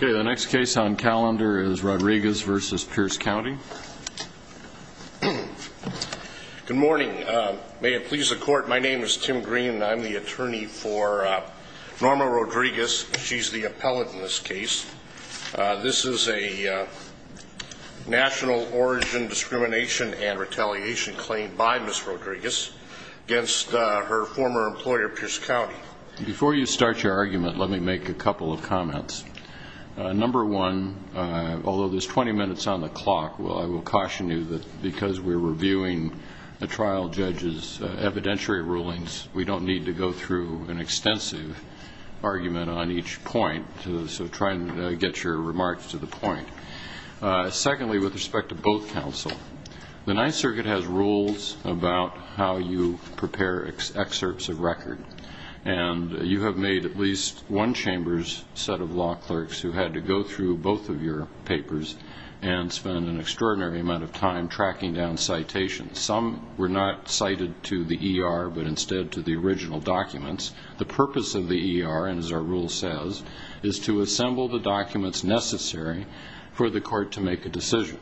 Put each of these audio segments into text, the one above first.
Good morning. May it please the court, my name is Tim Green and I'm the attorney for Norma Rodriguez. She's the appellate in this case. This is a national origin discrimination and retaliation claim by Ms. Rodriguez against her former employer, Pierce County. Before you start your argument, let me make a couple of comments. Number one, although there's 20 minutes on the clock, I will caution you that because we're reviewing a trial judge's evidentiary rulings, we don't need to go through an extensive argument on each point, so try and get your remarks to the point. Secondly, with respect to both counsel, the Ninth Circuit has rules about how you prepare excerpts of record, and you have made at least one chamber's set of law clerks who had to go through both of your papers and spend an extraordinary amount of time tracking down citations. Some were not cited to the ER, but instead to the original documents. The purpose of the ER, and as our rule says, is to assemble the documents necessary for the court to make a decision.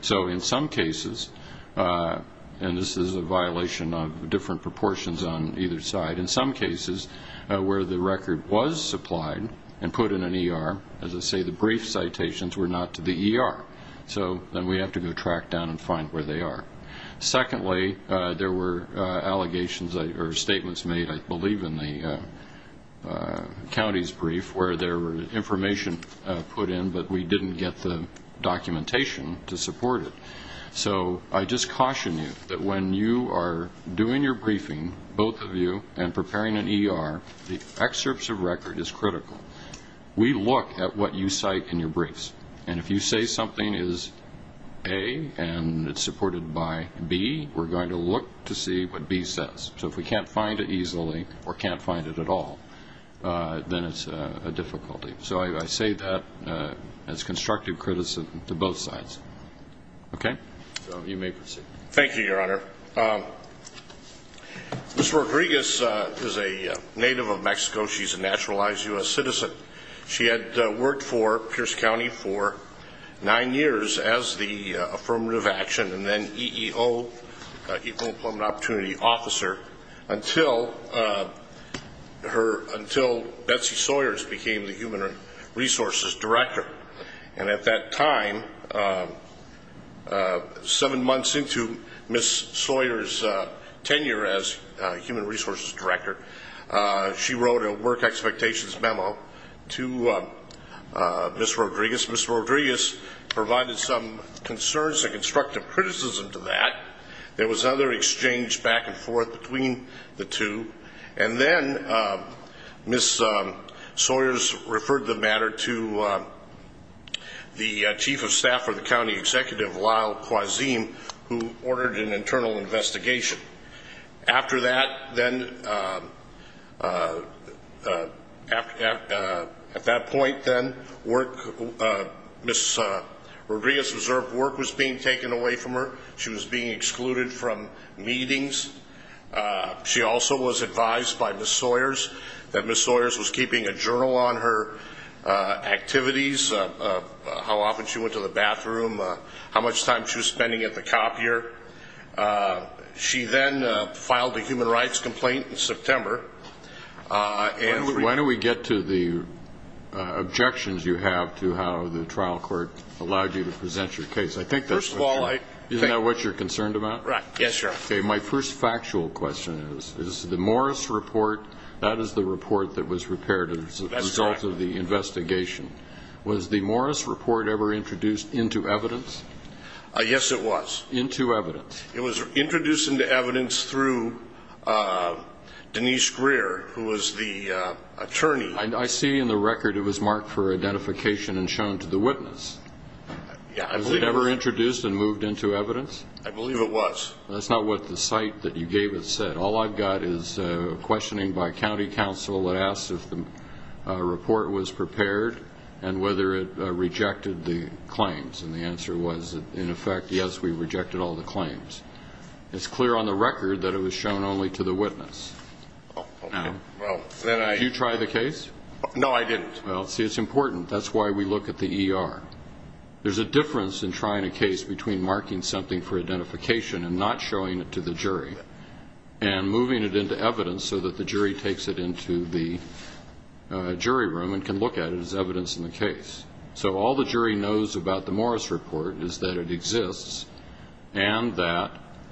So in some cases, and this is a violation of different proportions on either side, in some cases where the record was supplied and put in an ER, as I say, the brief citations were not to the ER, so then we have to go track down and find where they are. Secondly, there were allegations or statements made, I believe, in the county's brief where there was information put in, but we didn't get the documentation to support it. So I just caution you that when you are doing your briefing, both of you, and preparing an ER, the excerpts of record is critical. We look at what you cite in your briefs, and if you say something is A and it's supported by B, we're going to look to see what B says. So if we can't find it easily or can't find it at all, then it's a difficulty. So I say that as constructive criticism to both sides. Okay? So you may proceed. Thank you, Your Honor. Ms. Rodriguez is a native of Mexico. She's a naturalized U.S. citizen. She had worked for Pierce County for nine years as the Affirmative Action and then EEO, Equal Employment Opportunity Officer, until Betsy Sawyers became the Human Resources Director. And at that time, seven months into Ms. Sawyers' tenure as Human Resources Director, she wrote a work expectations memo to Ms. Rodriguez. Ms. Rodriguez provided some concerns and constructive criticism to that. There was other exchange back and forth between the two. And then Ms. Sawyers referred the matter to the Chief of Staff for the County Executive, Lyle Quazim, who ordered an internal investigation. After that, then, at that point, then, Ms. Rodriguez' reserved work was being taken away from her. She was being excluded from meetings. She also was advised by Ms. Sawyers that Ms. Sawyers was keeping a journal on her activities, how often she went to the bathroom, how much time she was spending at the copier. She then filed a human rights complaint in September. Why don't we get to the objections you have to how the trial court allowed you to present your case. I think that's... First of all, I... Isn't that what you're concerned about? Right. Yes, Your Honor. Okay, my first factual question is, is the Morris report, that is the report that was prepared as a result of the investigation. That's correct. Was the Morris report ever introduced into evidence? Yes, it was. Into evidence. It was introduced into evidence through Denise Greer, who was the attorney. I see in the record it was marked for identification and shown to the witness. Yeah, I believe it was. Was it ever introduced and moved into evidence? I believe it was. That's not what the site that you gave it said. All I've got is questioning by county counsel that asks if the report was prepared and whether it rejected the claims. And the answer was, in effect, yes, we rejected all the claims. It's clear on the record that it was shown only to the witness. Okay. Did you try the case? No, I didn't. Well, see, it's important. That's why we look at the ER. There's a difference in trying a case between marking something for identification and not showing it to the jury. And moving it into evidence so that the jury takes it into the jury room and can look at it as evidence in the case. So all the jury knows about the Morris report is that it exists and that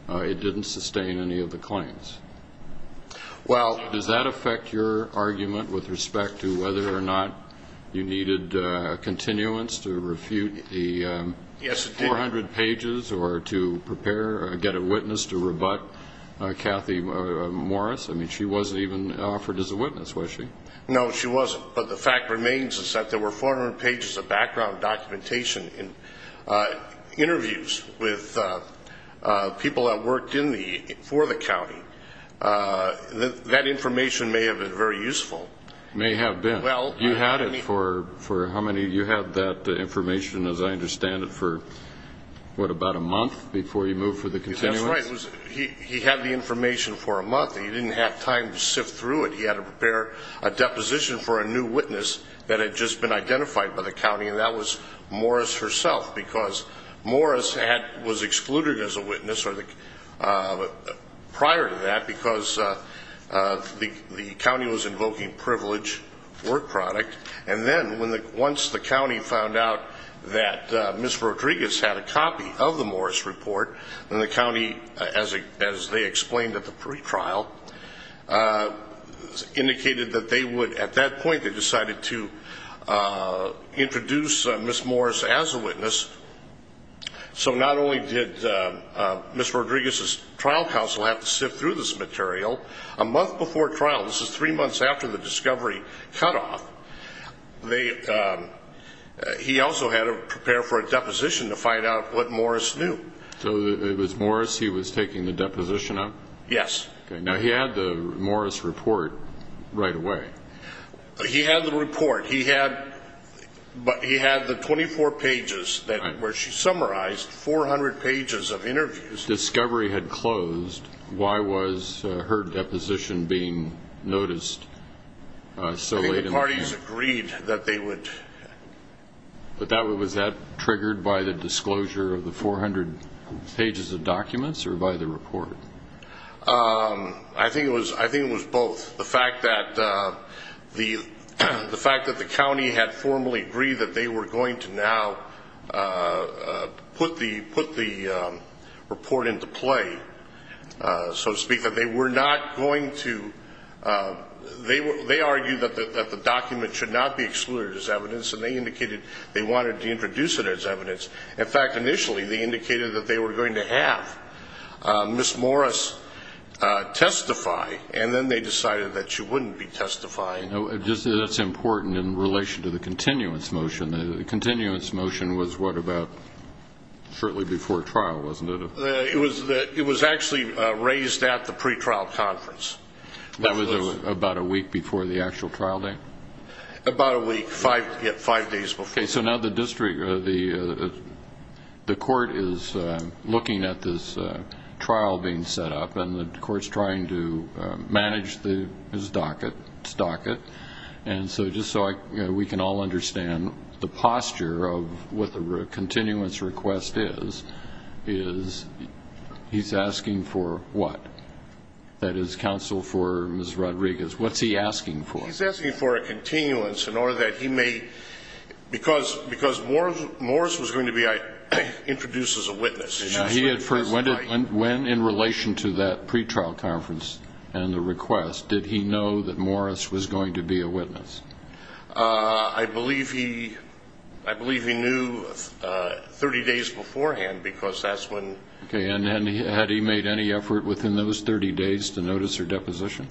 it didn't sustain any of the claims. Well, does that affect your argument with respect to whether or not you needed continuance to refute the 400 pages or to prepare or get a witness to rebut Kathy Morris? I mean, she wasn't even offered as a witness, was she? No, she wasn't. But the fact remains is that there were 400 pages of background documentation in interviews with people that worked for the county. That information may have been very useful. May have been. You had it for how many? You had that information, as I understand it, for what, about a month before you moved for the continuance? That's right. He had the information for a month. He didn't have time to sift through it. He had to prepare a deposition for a new witness that had just been identified by the county, and that was Morris herself. Because Morris was excluded as a witness prior to that because the county was invoking privilege work product. And then once the county found out that Ms. Rodriguez had a copy of the Morris report, then the county, as they explained at the pretrial, indicated that they would, at that point, they decided to introduce Ms. Morris as a witness. So not only did Ms. Rodriguez's trial counsel have to sift through this material, a month before trial, this is three months after the discovery cutoff, he also had to prepare for a deposition to find out what Morris knew. So it was Morris he was taking the deposition of? Yes. Now, he had the Morris report right away. He had the report. He had the 24 pages where she summarized 400 pages of interviews. Discovery had closed. Why was her deposition being noticed so late in the meeting? I think the parties agreed that they would. But was that triggered by the disclosure of the 400 pages of documents or by the report? I think it was both. The fact that the county had formally agreed that they were going to now put the report into play, so to speak, that they were not going to, they argued that the document should not be excluded as evidence, and they indicated they wanted to introduce it as evidence. In fact, initially, they indicated that they were going to have Ms. Morris testify, and then they decided that she wouldn't be testifying. That's important in relation to the continuance motion. The continuance motion was what, about shortly before trial, wasn't it? It was actually raised at the pretrial conference. That was about a week before the actual trial date? About a week, five days before. Okay, so now the court is looking at this trial being set up, and so just so we can all understand the posture of what the continuance request is, is he's asking for what? That is, counsel for Ms. Rodriguez. What's he asking for? He's asking for a continuance in order that he may, because Morris was going to be introduced as a witness. When, in relation to that pretrial conference and the request, did he know that Morris was going to be a witness? I believe he knew 30 days beforehand because that's when. Okay, and had he made any effort within those 30 days to notice her deposition?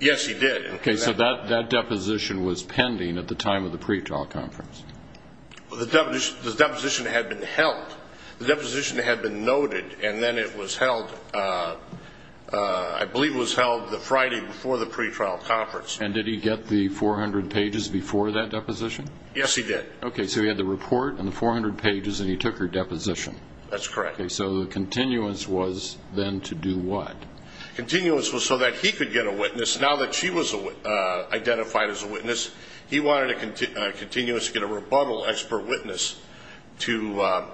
Yes, he did. Okay, so that deposition was pending at the time of the pretrial conference. The deposition had been held. The deposition had been noted, and then it was held, I believe it was held the Friday before the pretrial conference. And did he get the 400 pages before that deposition? Yes, he did. Okay, so he had the report and the 400 pages, and he took her deposition. That's correct. Okay, so the continuance was then to do what? Continuance was so that he could get a witness. Now that she was identified as a witness, he wanted a continuance to get a rebuttal expert witness to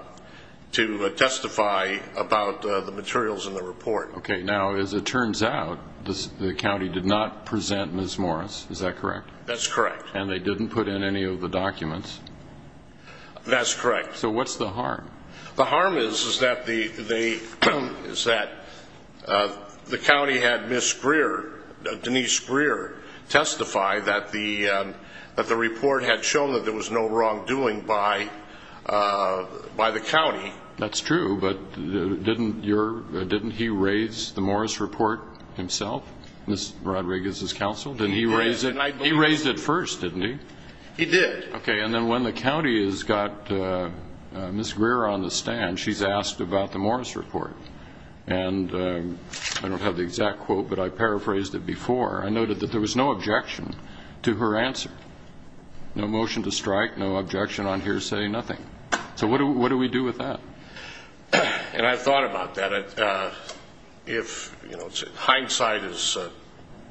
testify about the materials in the report. Okay, now as it turns out, the county did not present Ms. Morris, is that correct? That's correct. And they didn't put in any of the documents? So what's the harm? The harm is that the county had Ms. Greer, Denise Greer, testify that the report had shown that there was no wrongdoing by the county. That's true, but didn't he raise the Morris report himself, Ms. Rodriguez's counsel? He did. He raised it first, didn't he? He did. Okay, and then when the county has got Ms. Greer on the stand, she's asked about the Morris report. And I don't have the exact quote, but I paraphrased it before. I noted that there was no objection to her answer, no motion to strike, no objection on hearsay, nothing. So what do we do with that? And I thought about that. Hindsight is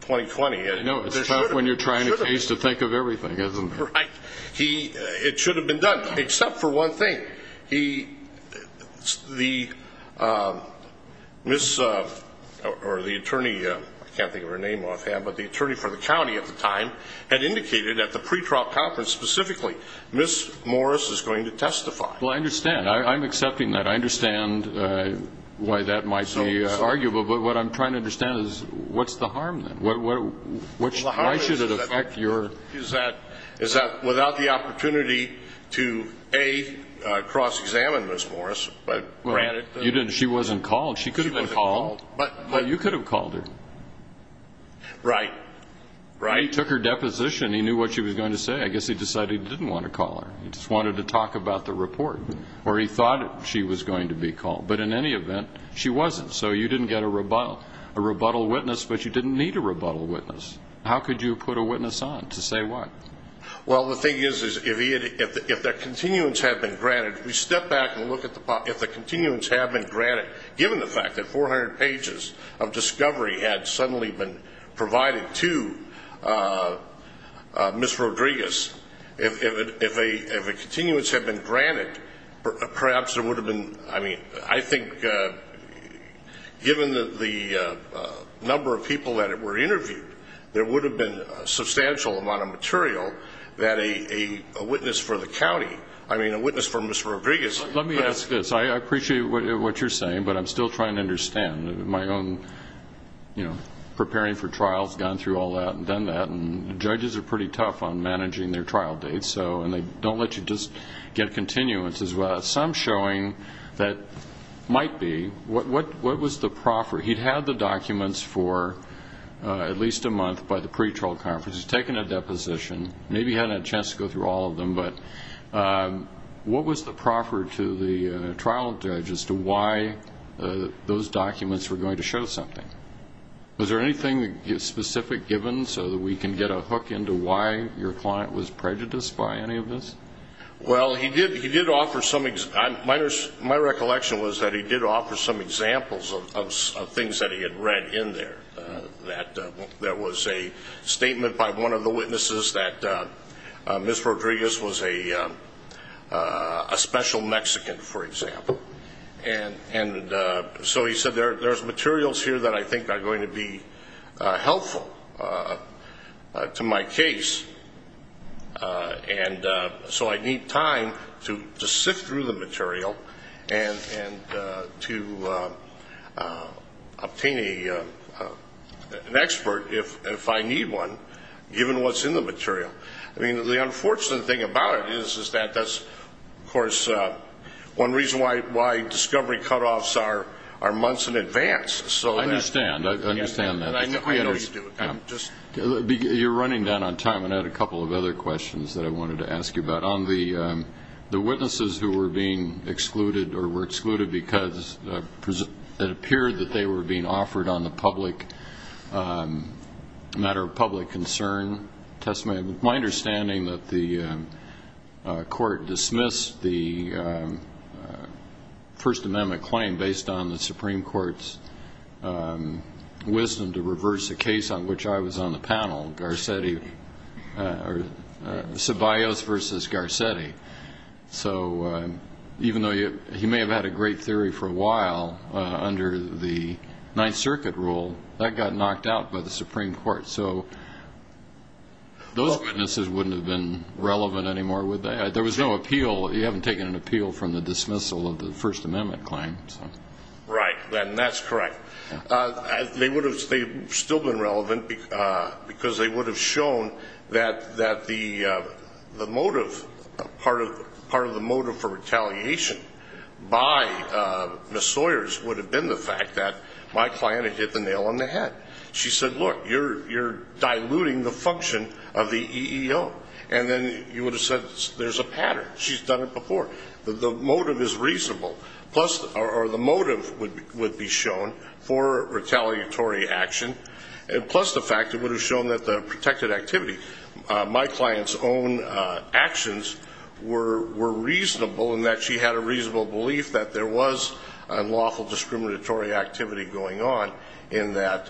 20-20. No, it's tough when you're trying a case to think of everything, isn't it? Right. It should have been done, except for one thing. The attorney for the county at the time had indicated at the pretrial conference specifically, Ms. Morris is going to testify. Well, I understand. I'm accepting that. I understand why that might be arguable, but what I'm trying to understand is what's the harm then? Why should it affect your ---- Is that without the opportunity to, A, cross-examine Ms. Morris, but granted ---- She wasn't called. She could have been called. But you could have called her. Right. Right. He took her deposition. He knew what she was going to say. I guess he decided he didn't want to call her. He just wanted to talk about the report, or he thought she was going to be called. But in any event, she wasn't. So you didn't get a rebuttal witness, but you didn't need a rebuttal witness. How could you put a witness on to say what? Well, the thing is, if the continuance had been granted, we step back and look at the ---- if the continuance had been granted, given the fact that 400 pages of discovery had suddenly been provided to Ms. Rodriguez, if a continuance had been granted, perhaps there would have been ---- I mean, I think given the number of people that were interviewed, there would have been a substantial amount of material that a witness for the county ---- I mean, a witness for Ms. Rodriguez ---- Let me ask this. I appreciate what you're saying, but I'm still trying to understand. My own, you know, preparing for trials, gone through all that and done that, and judges are pretty tough on managing their trial dates, and they don't let you just get continuance as well. So I'm showing that might be. What was the proffer? He'd had the documents for at least a month by the pretrial conference. He's taken a deposition. Maybe he hadn't had a chance to go through all of them, but what was the proffer to the trial judge as to why those documents were going to show something? Was there anything specific given so that we can get a hook into why your client was prejudiced by any of this? Well, he did offer some ---- My recollection was that he did offer some examples of things that he had read in there. There was a statement by one of the witnesses that Ms. Rodriguez was a special Mexican, for example. And so he said, there's materials here that I think are going to be helpful to my case, and so I need time to sift through the material and to obtain an expert if I need one, given what's in the material. I mean, the unfortunate thing about it is that that's, of course, one reason why discovery cutoffs are months in advance. I understand. I understand that. I know you do. You're running down on time, and I had a couple of other questions that I wanted to ask you about. The witnesses who were being excluded or were excluded because it appeared that they were being offered on the public, a matter of public concern, testimony. My understanding that the court dismissed the First Amendment claim based on the Supreme Court's wisdom to reverse a case on which I was on the panel, Garcetti, or Ceballos versus Garcetti. So even though he may have had a great theory for a while under the Ninth Circuit rule, that got knocked out by the Supreme Court. So those witnesses wouldn't have been relevant anymore, would they? There was no appeal. You haven't taken an appeal from the dismissal of the First Amendment claim. Right, and that's correct. They would have still been relevant because they would have shown that the motive, part of the motive for retaliation by Ms. Sawyers would have been the fact that my client had hit the nail on the head. She said, look, you're diluting the function of the EEO. And then you would have said there's a pattern. She's done it before. The motive is reasonable, or the motive would be shown for retaliatory action, plus the fact it would have shown that the protected activity, my client's own actions, were reasonable in that she had a reasonable belief that there was unlawful discriminatory activity going on in that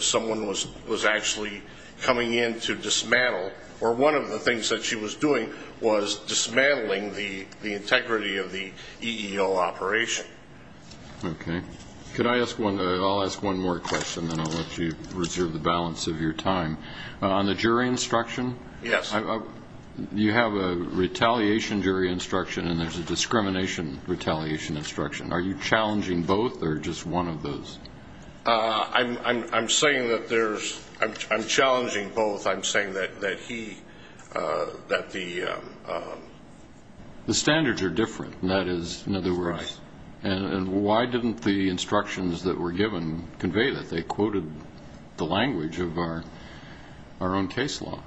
someone was actually coming in to dismantle. Or one of the things that she was doing was dismantling the integrity of the EEO operation. Okay. I'll ask one more question, then I'll let you reserve the balance of your time. On the jury instruction? Yes. You have a retaliation jury instruction, and there's a discrimination retaliation instruction. Are you challenging both, or just one of those? I'm saying that there's – I'm challenging both. I'm saying that he – that the – The standards are different. That is, in other words – Right. And why didn't the instructions that were given convey that? They quoted the language of our own case law.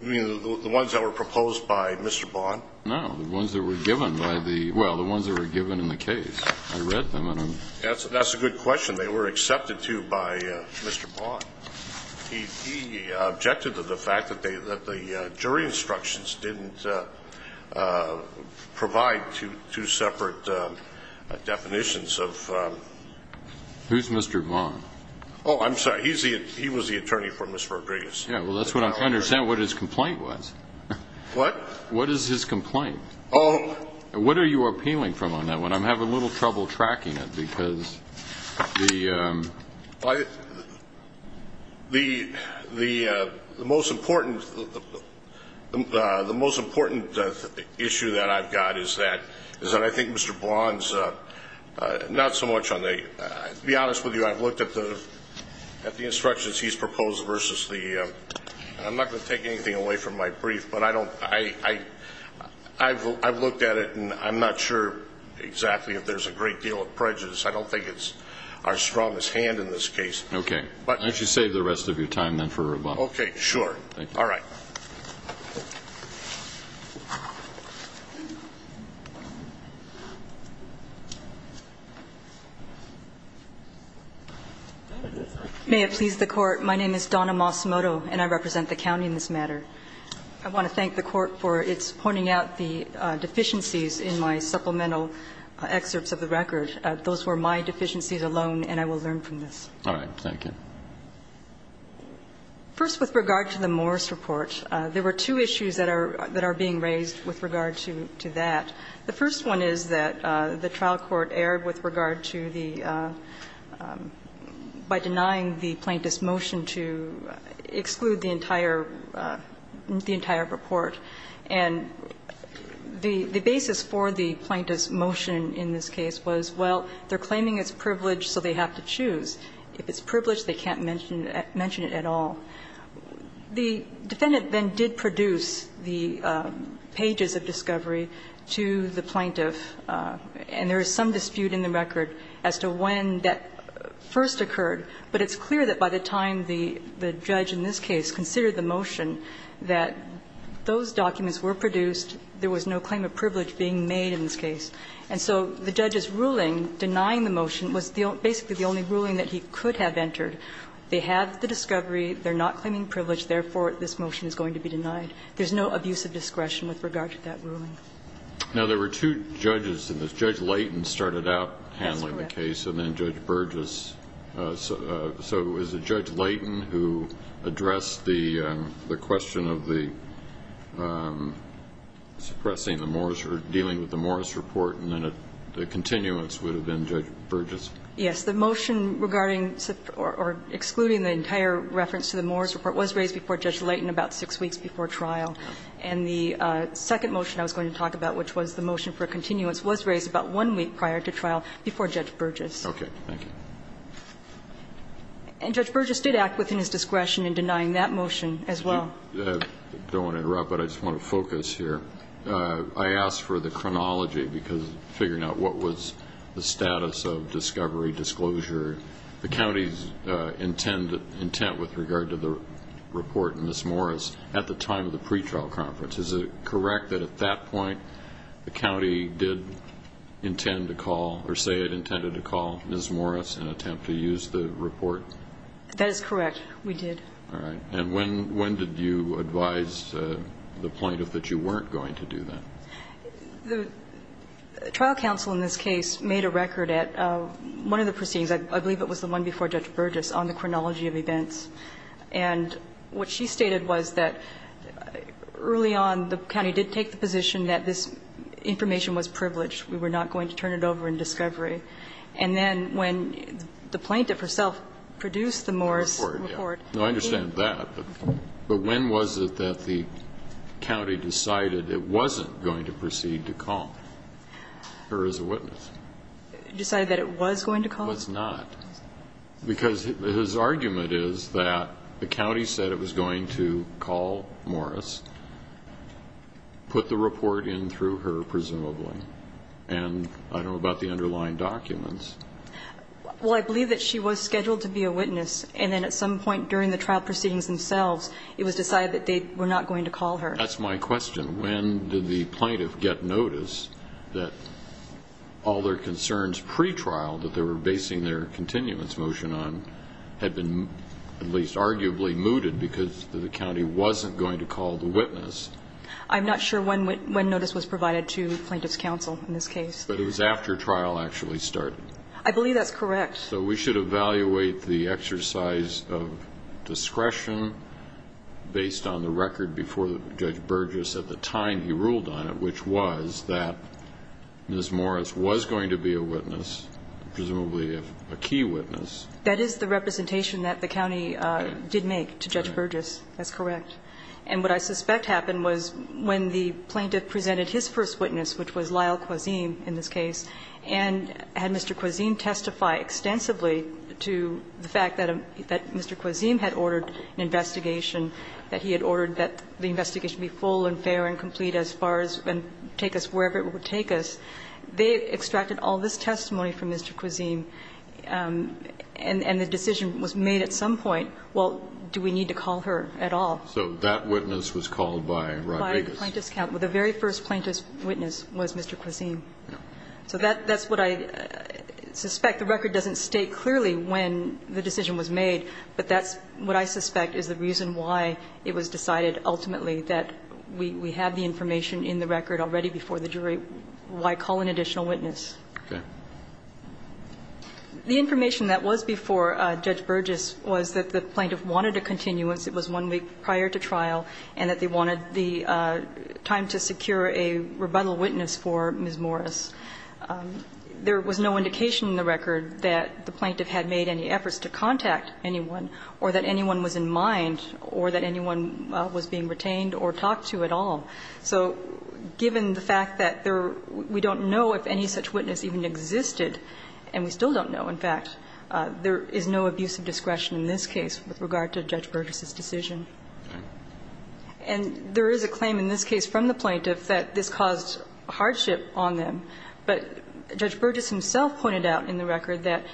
You mean the ones that were proposed by Mr. Bond? No, the ones that were given by the – well, the ones that were given in the case. I read them, and I'm – That's a good question. They were accepted to by Mr. Bond. He objected to the fact that the jury instructions didn't provide two separate definitions of – Who's Mr. Bond? Oh, I'm sorry. He was the attorney for Mr. Rodriguez. Yeah, well, that's what I'm trying to understand, what his complaint was. What? What is his complaint? Oh. What are you appealing from on that one? I'm having a little trouble tracking it because the – The most important issue that I've got is that I think Mr. Bond's not so much on the – to be honest with you, I've looked at the instructions he's proposed versus the – and I'm not going to take anything away from my brief, but I don't – I've looked at it, and I'm not sure exactly if there's a great deal of prejudice. I don't think it's our strongest hand in this case. Okay. Why don't you save the rest of your time then for Mr. Bond? Okay, sure. Thank you. All right. May it please the Court, my name is Donna Moss-Moto, and I represent the county in this matter. I want to thank the Court for its pointing out the deficiencies in my supplemental excerpts of the record. Those were my deficiencies alone, and I will learn from this. All right. Thank you. First, with regard to the Morris Report, there were two issues that are being raised with regard to that. The first one is that the trial court erred with regard to the – by denying the plaintiff's motion to exclude the entire – the entire report. And the basis for the plaintiff's motion in this case was, well, they're claiming it's privileged, so they have to choose. If it's privileged, they can't mention it at all. The defendant then did produce the pages of discovery to the plaintiff, and there is some dispute in the record as to when that first occurred. But it's clear that by the time the judge in this case considered the motion that those documents were produced, there was no claim of privilege being made in this case. And so the judge's ruling denying the motion was basically the only ruling that he could have entered. They have the discovery, they're not claiming privilege, therefore, this motion is going to be denied. There's no abuse of discretion with regard to that ruling. Now, there were two judges in this. Judge Leighton started out handling the case. That's correct. And then Judge Burgess. So it was Judge Leighton who addressed the question of the – suppressing the Morris – or dealing with the Morris report, and then the continuance would have been Judge Burgess? Yes. The motion regarding or excluding the entire reference to the Morris report was raised before Judge Leighton about six weeks before trial. And the second motion I was going to talk about, which was the motion for continuance, was raised about one week prior to trial before Judge Burgess. Okay. Thank you. And Judge Burgess did act within his discretion in denying that motion as well. I don't want to interrupt, but I just want to focus here. I asked for the chronology because figuring out what was the status of discovery, disclosure. The county's intent with regard to the report in this Morris at the time of the pretrial conference, is it correct that at that point the county did intend to call or say it intended to call Ms. Morris and attempt to use the report? That is correct. We did. All right. And when did you advise the plaintiff that you weren't going to do that? The trial counsel in this case made a record at one of the proceedings. I believe it was the one before Judge Burgess on the chronology of events. And what she stated was that early on the county did take the position that this information was privileged. We were not going to turn it over in discovery. And then when the plaintiff herself produced the Morris report. I understand that. But when was it that the county decided it wasn't going to proceed to call her as a witness? Decided that it was going to call? Was not. Because his argument is that the county said it was going to call Morris, put the report in through her presumably. And I don't know about the underlying documents. Well, I believe that she was scheduled to be a witness. And then at some point during the trial proceedings themselves, it was decided that they were not going to call her. That's my question. When did the plaintiff get notice that all their concerns pretrial, that they were basing their continuance motion on, had been at least arguably mooted because the county wasn't going to call the witness? I'm not sure when notice was provided to plaintiff's counsel in this case. But it was after trial actually started. I believe that's correct. So we should evaluate the exercise of discretion based on the record before Judge Burgess at the time he ruled on it, which was that Ms. Morris was going to be a witness, presumably a key witness. That is the representation that the county did make to Judge Burgess. That's correct. And what I suspect happened was when the plaintiff presented his first witness, which was Lyle Quazim in this case, and had Mr. Quazim testify extensively to the fact that Mr. Quazim had ordered an investigation, that he had ordered that the investigation be full and fair and complete as far as and take us wherever it would take us, they extracted all this testimony from Mr. Quazim, and the decision was made at some point, well, do we need to call her at all? So that witness was called by Rodriguez? By the plaintiff's counsel. The very first plaintiff's witness was Mr. Quazim. So that's what I suspect. The record doesn't state clearly when the decision was made, but that's what I suspect is the reason why it was decided ultimately that we have the information in the record already before the jury. Why call an additional witness? Okay. The information that was before Judge Burgess was that the plaintiff wanted a continuance. It was one week prior to trial, and that they wanted the time to secure a rebuttal witness for Ms. Morris. There was no indication in the record that the plaintiff had made any efforts to contact anyone or that anyone was in mind or that anyone was being retained or talked to at all. So given the fact that we don't know if any such witness even existed, and we still don't know, in fact, there is no abuse of discretion in this case with regard to Judge Burgess's decision. And there is a claim in this case from the plaintiff that this caused hardship on them, but Judge Burgess himself pointed out in the record that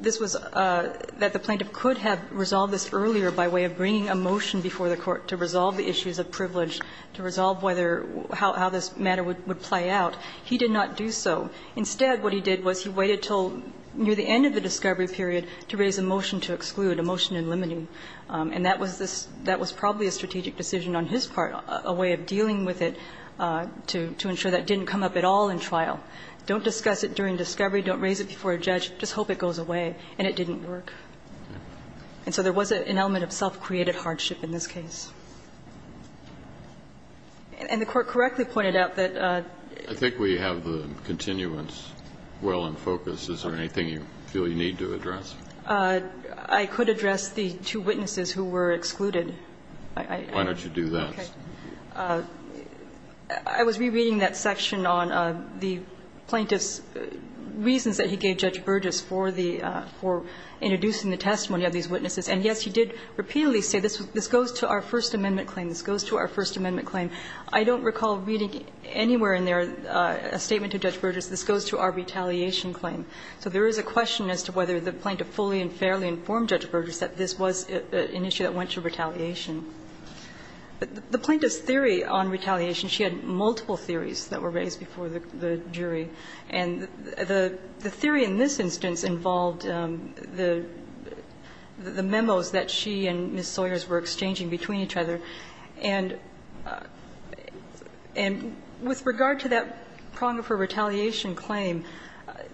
this was the plaintiff could have resolved this earlier by way of bringing a motion before the court to resolve the issues of privilege, to resolve whether how this matter would play out. He did not do so. Instead, what he did was he waited until near the end of the discovery period to raise a motion to exclude, a motion in limiting. And that was probably a strategic decision on his part, a way of dealing with it to ensure that didn't come up at all in trial. Don't discuss it during discovery. Don't raise it before a judge. Just hope it goes away. And it didn't work. And so there was an element of self-created hardship in this case. And the Court correctly pointed out that the ---- I think we have the continuance well in focus. Is there anything you feel you need to address? I could address the two witnesses who were excluded. Why don't you do that? Okay. I was rereading that section on the plaintiff's reasons that he gave Judge Burgess for the ---- for introducing the testimony of these witnesses. And, yes, he did repeatedly say this goes to our First Amendment claim. This goes to our First Amendment claim. I don't recall reading anywhere in there a statement to Judge Burgess, this goes to our retaliation claim. So there is a question as to whether the plaintiff fully and fairly informed Judge Burgess that this was an issue that went to retaliation. The plaintiff's theory on retaliation, she had multiple theories that were raised before the jury. And the theory in this instance involved the memos that she and Ms. Sawyers were exchanging between each other. And with regard to that prong of her retaliation claim,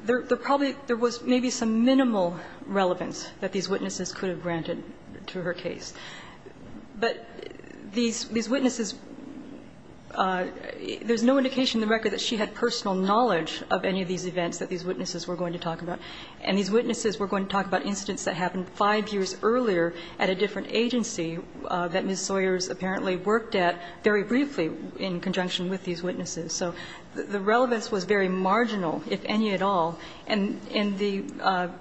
there probably ---- there was maybe some minimal relevance that these witnesses could have granted to her case. But these witnesses, there's no indication in the record that she had personal knowledge of any of these events that these witnesses were going to talk about. And these witnesses were going to talk about incidents that happened 5 years earlier at a different agency that Ms. Sawyers apparently worked at very briefly in conjunction with these witnesses. So the relevance was very marginal, if any at all. And the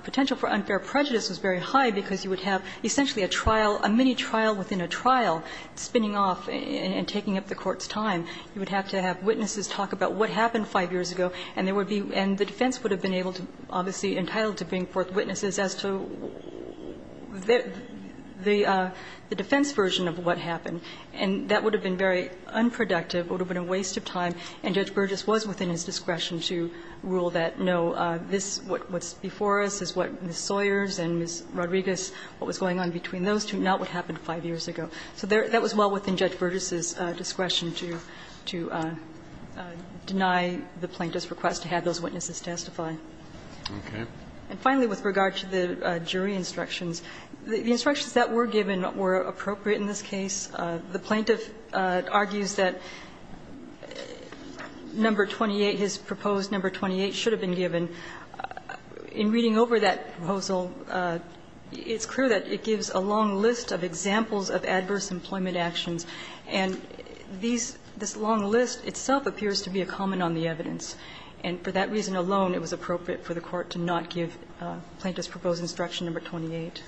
potential for unfair prejudice was very high because you would have essentially a trial, a mini-trial within a trial, spinning off and taking up the Court's time. You would have to have witnesses talk about what happened 5 years ago. And there would be ---- and the defense would have been able to, obviously, entitled to bring forth witnesses as to the defense version of what happened. And that would have been very unproductive, would have been a waste of time, and Judge Burgess was within his discretion to rule that, no, this, what's before us is what Ms. Sawyers and Ms. Rodriguez, what was going on between those two, not what happened 5 years ago. So that was well within Judge Burgess' discretion to deny the plaintiff's request to have those witnesses testify. And finally, with regard to the jury instructions, the instructions that were given were appropriate in this case. The plaintiff argues that number 28, his proposed number 28, should have been given. In reading over that proposal, it's clear that it gives a long list of examples of adverse employment actions, and these ---- this long list itself appears to be a comment on the evidence. And for that reason alone, it was appropriate for the Court to not give plaintiff's proposed instruction number 28.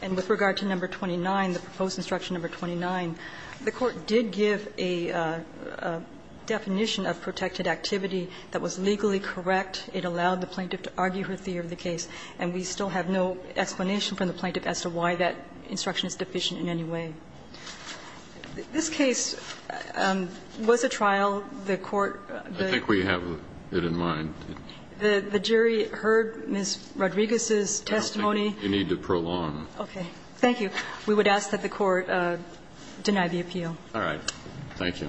And with regard to number 29, the proposed instruction number 29, the Court did give a definition of protected activity that was legally correct. It allowed the plaintiff to argue her theory of the case. And we still have no explanation from the plaintiff as to why that instruction is deficient in any way. This case was a trial. The Court ---- Kennedy, I think we have it in mind. The jury heard Ms. Rodriguez's testimony. You need to prolong. Okay. Thank you. We would ask that the Court deny the appeal. All right. Thank you.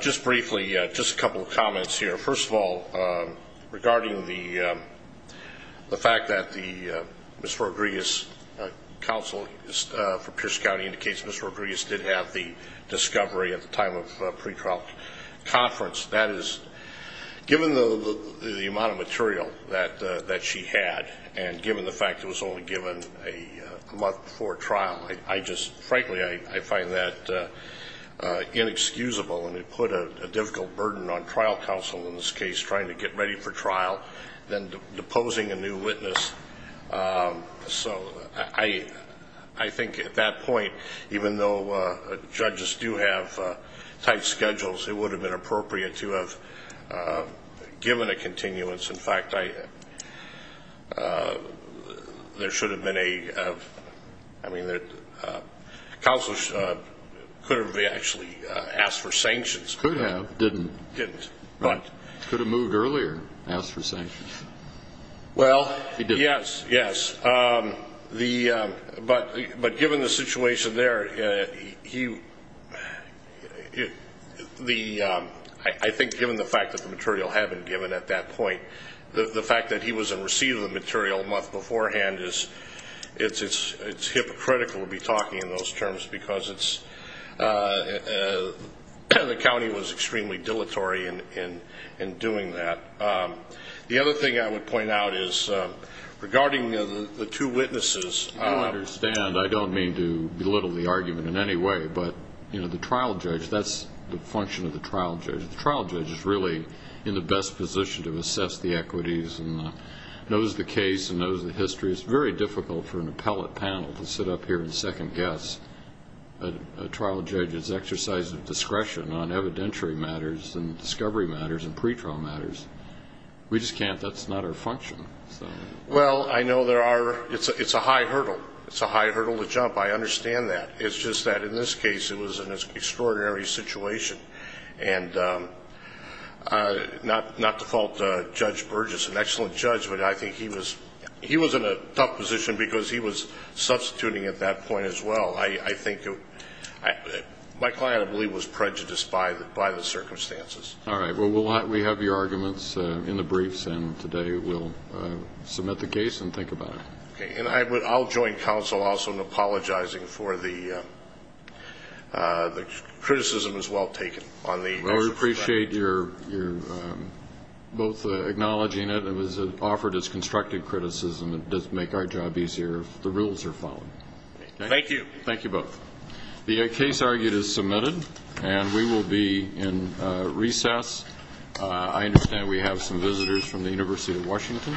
Just briefly, just a couple of comments here. First of all, regarding the fact that the Ms. Rodriguez counsel for Pierce County indicates Ms. Rodriguez did have the discovery at the time of pre-trial conference. That is, given the amount of material that she had, and given the fact it was only given a month before trial, I just, frankly, I find that inexcusable, and it put a difficult burden on trial counsel in this case, trying to get ready for trial, then deposing a new witness. So I think at that point, even though judges do have tight schedules, it would have been appropriate to have given a continuance. In fact, there should have been a, I mean, counsel could have actually asked for sanctions. Could have, didn't. Didn't, but. Could have moved earlier, asked for sanctions. Well, yes, yes. But given the situation there, I think given the fact that the material had been given at that point, the fact that he wasn't receiving the material a month beforehand, it's hypocritical to be talking in those terms, because the county was extremely dilatory in doing that. The other thing I would point out is, regarding the two witnesses. I understand. I don't mean to belittle the argument in any way, but the trial judge, that's the function of the trial judge. The trial judge is really in the best position to assess the equities, and knows the case, and knows the history. It's very difficult for an appellate panel to sit up here and second guess a trial judge's exercise of discretion on evidentiary matters and discovery matters and pretrial matters. We just can't. That's not our function. Well, I know there are. It's a high hurdle. It's a high hurdle to jump. I understand that. It's just that in this case, it was an extraordinary situation. And not to fault Judge Burgess, an excellent judge, but I think he was in a tough position because he was substituting at that point as well. I think my client, I believe, was prejudiced by the circumstances. All right. Well, we have your arguments in the briefs, and today we'll submit the case and think about it. Okay. And I'll join counsel also in apologizing for the criticism as well taken. Well, we appreciate your both acknowledging it. It was offered as constructive criticism. It does make our job easier if the rules are followed. Thank you. Thank you both. The case argued is submitted, and we will be in recess. I understand we have some visitors from the University of Washington.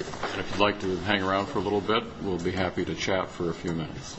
If you'd like to hang around for a little bit, we'll be happy to chat for a few minutes.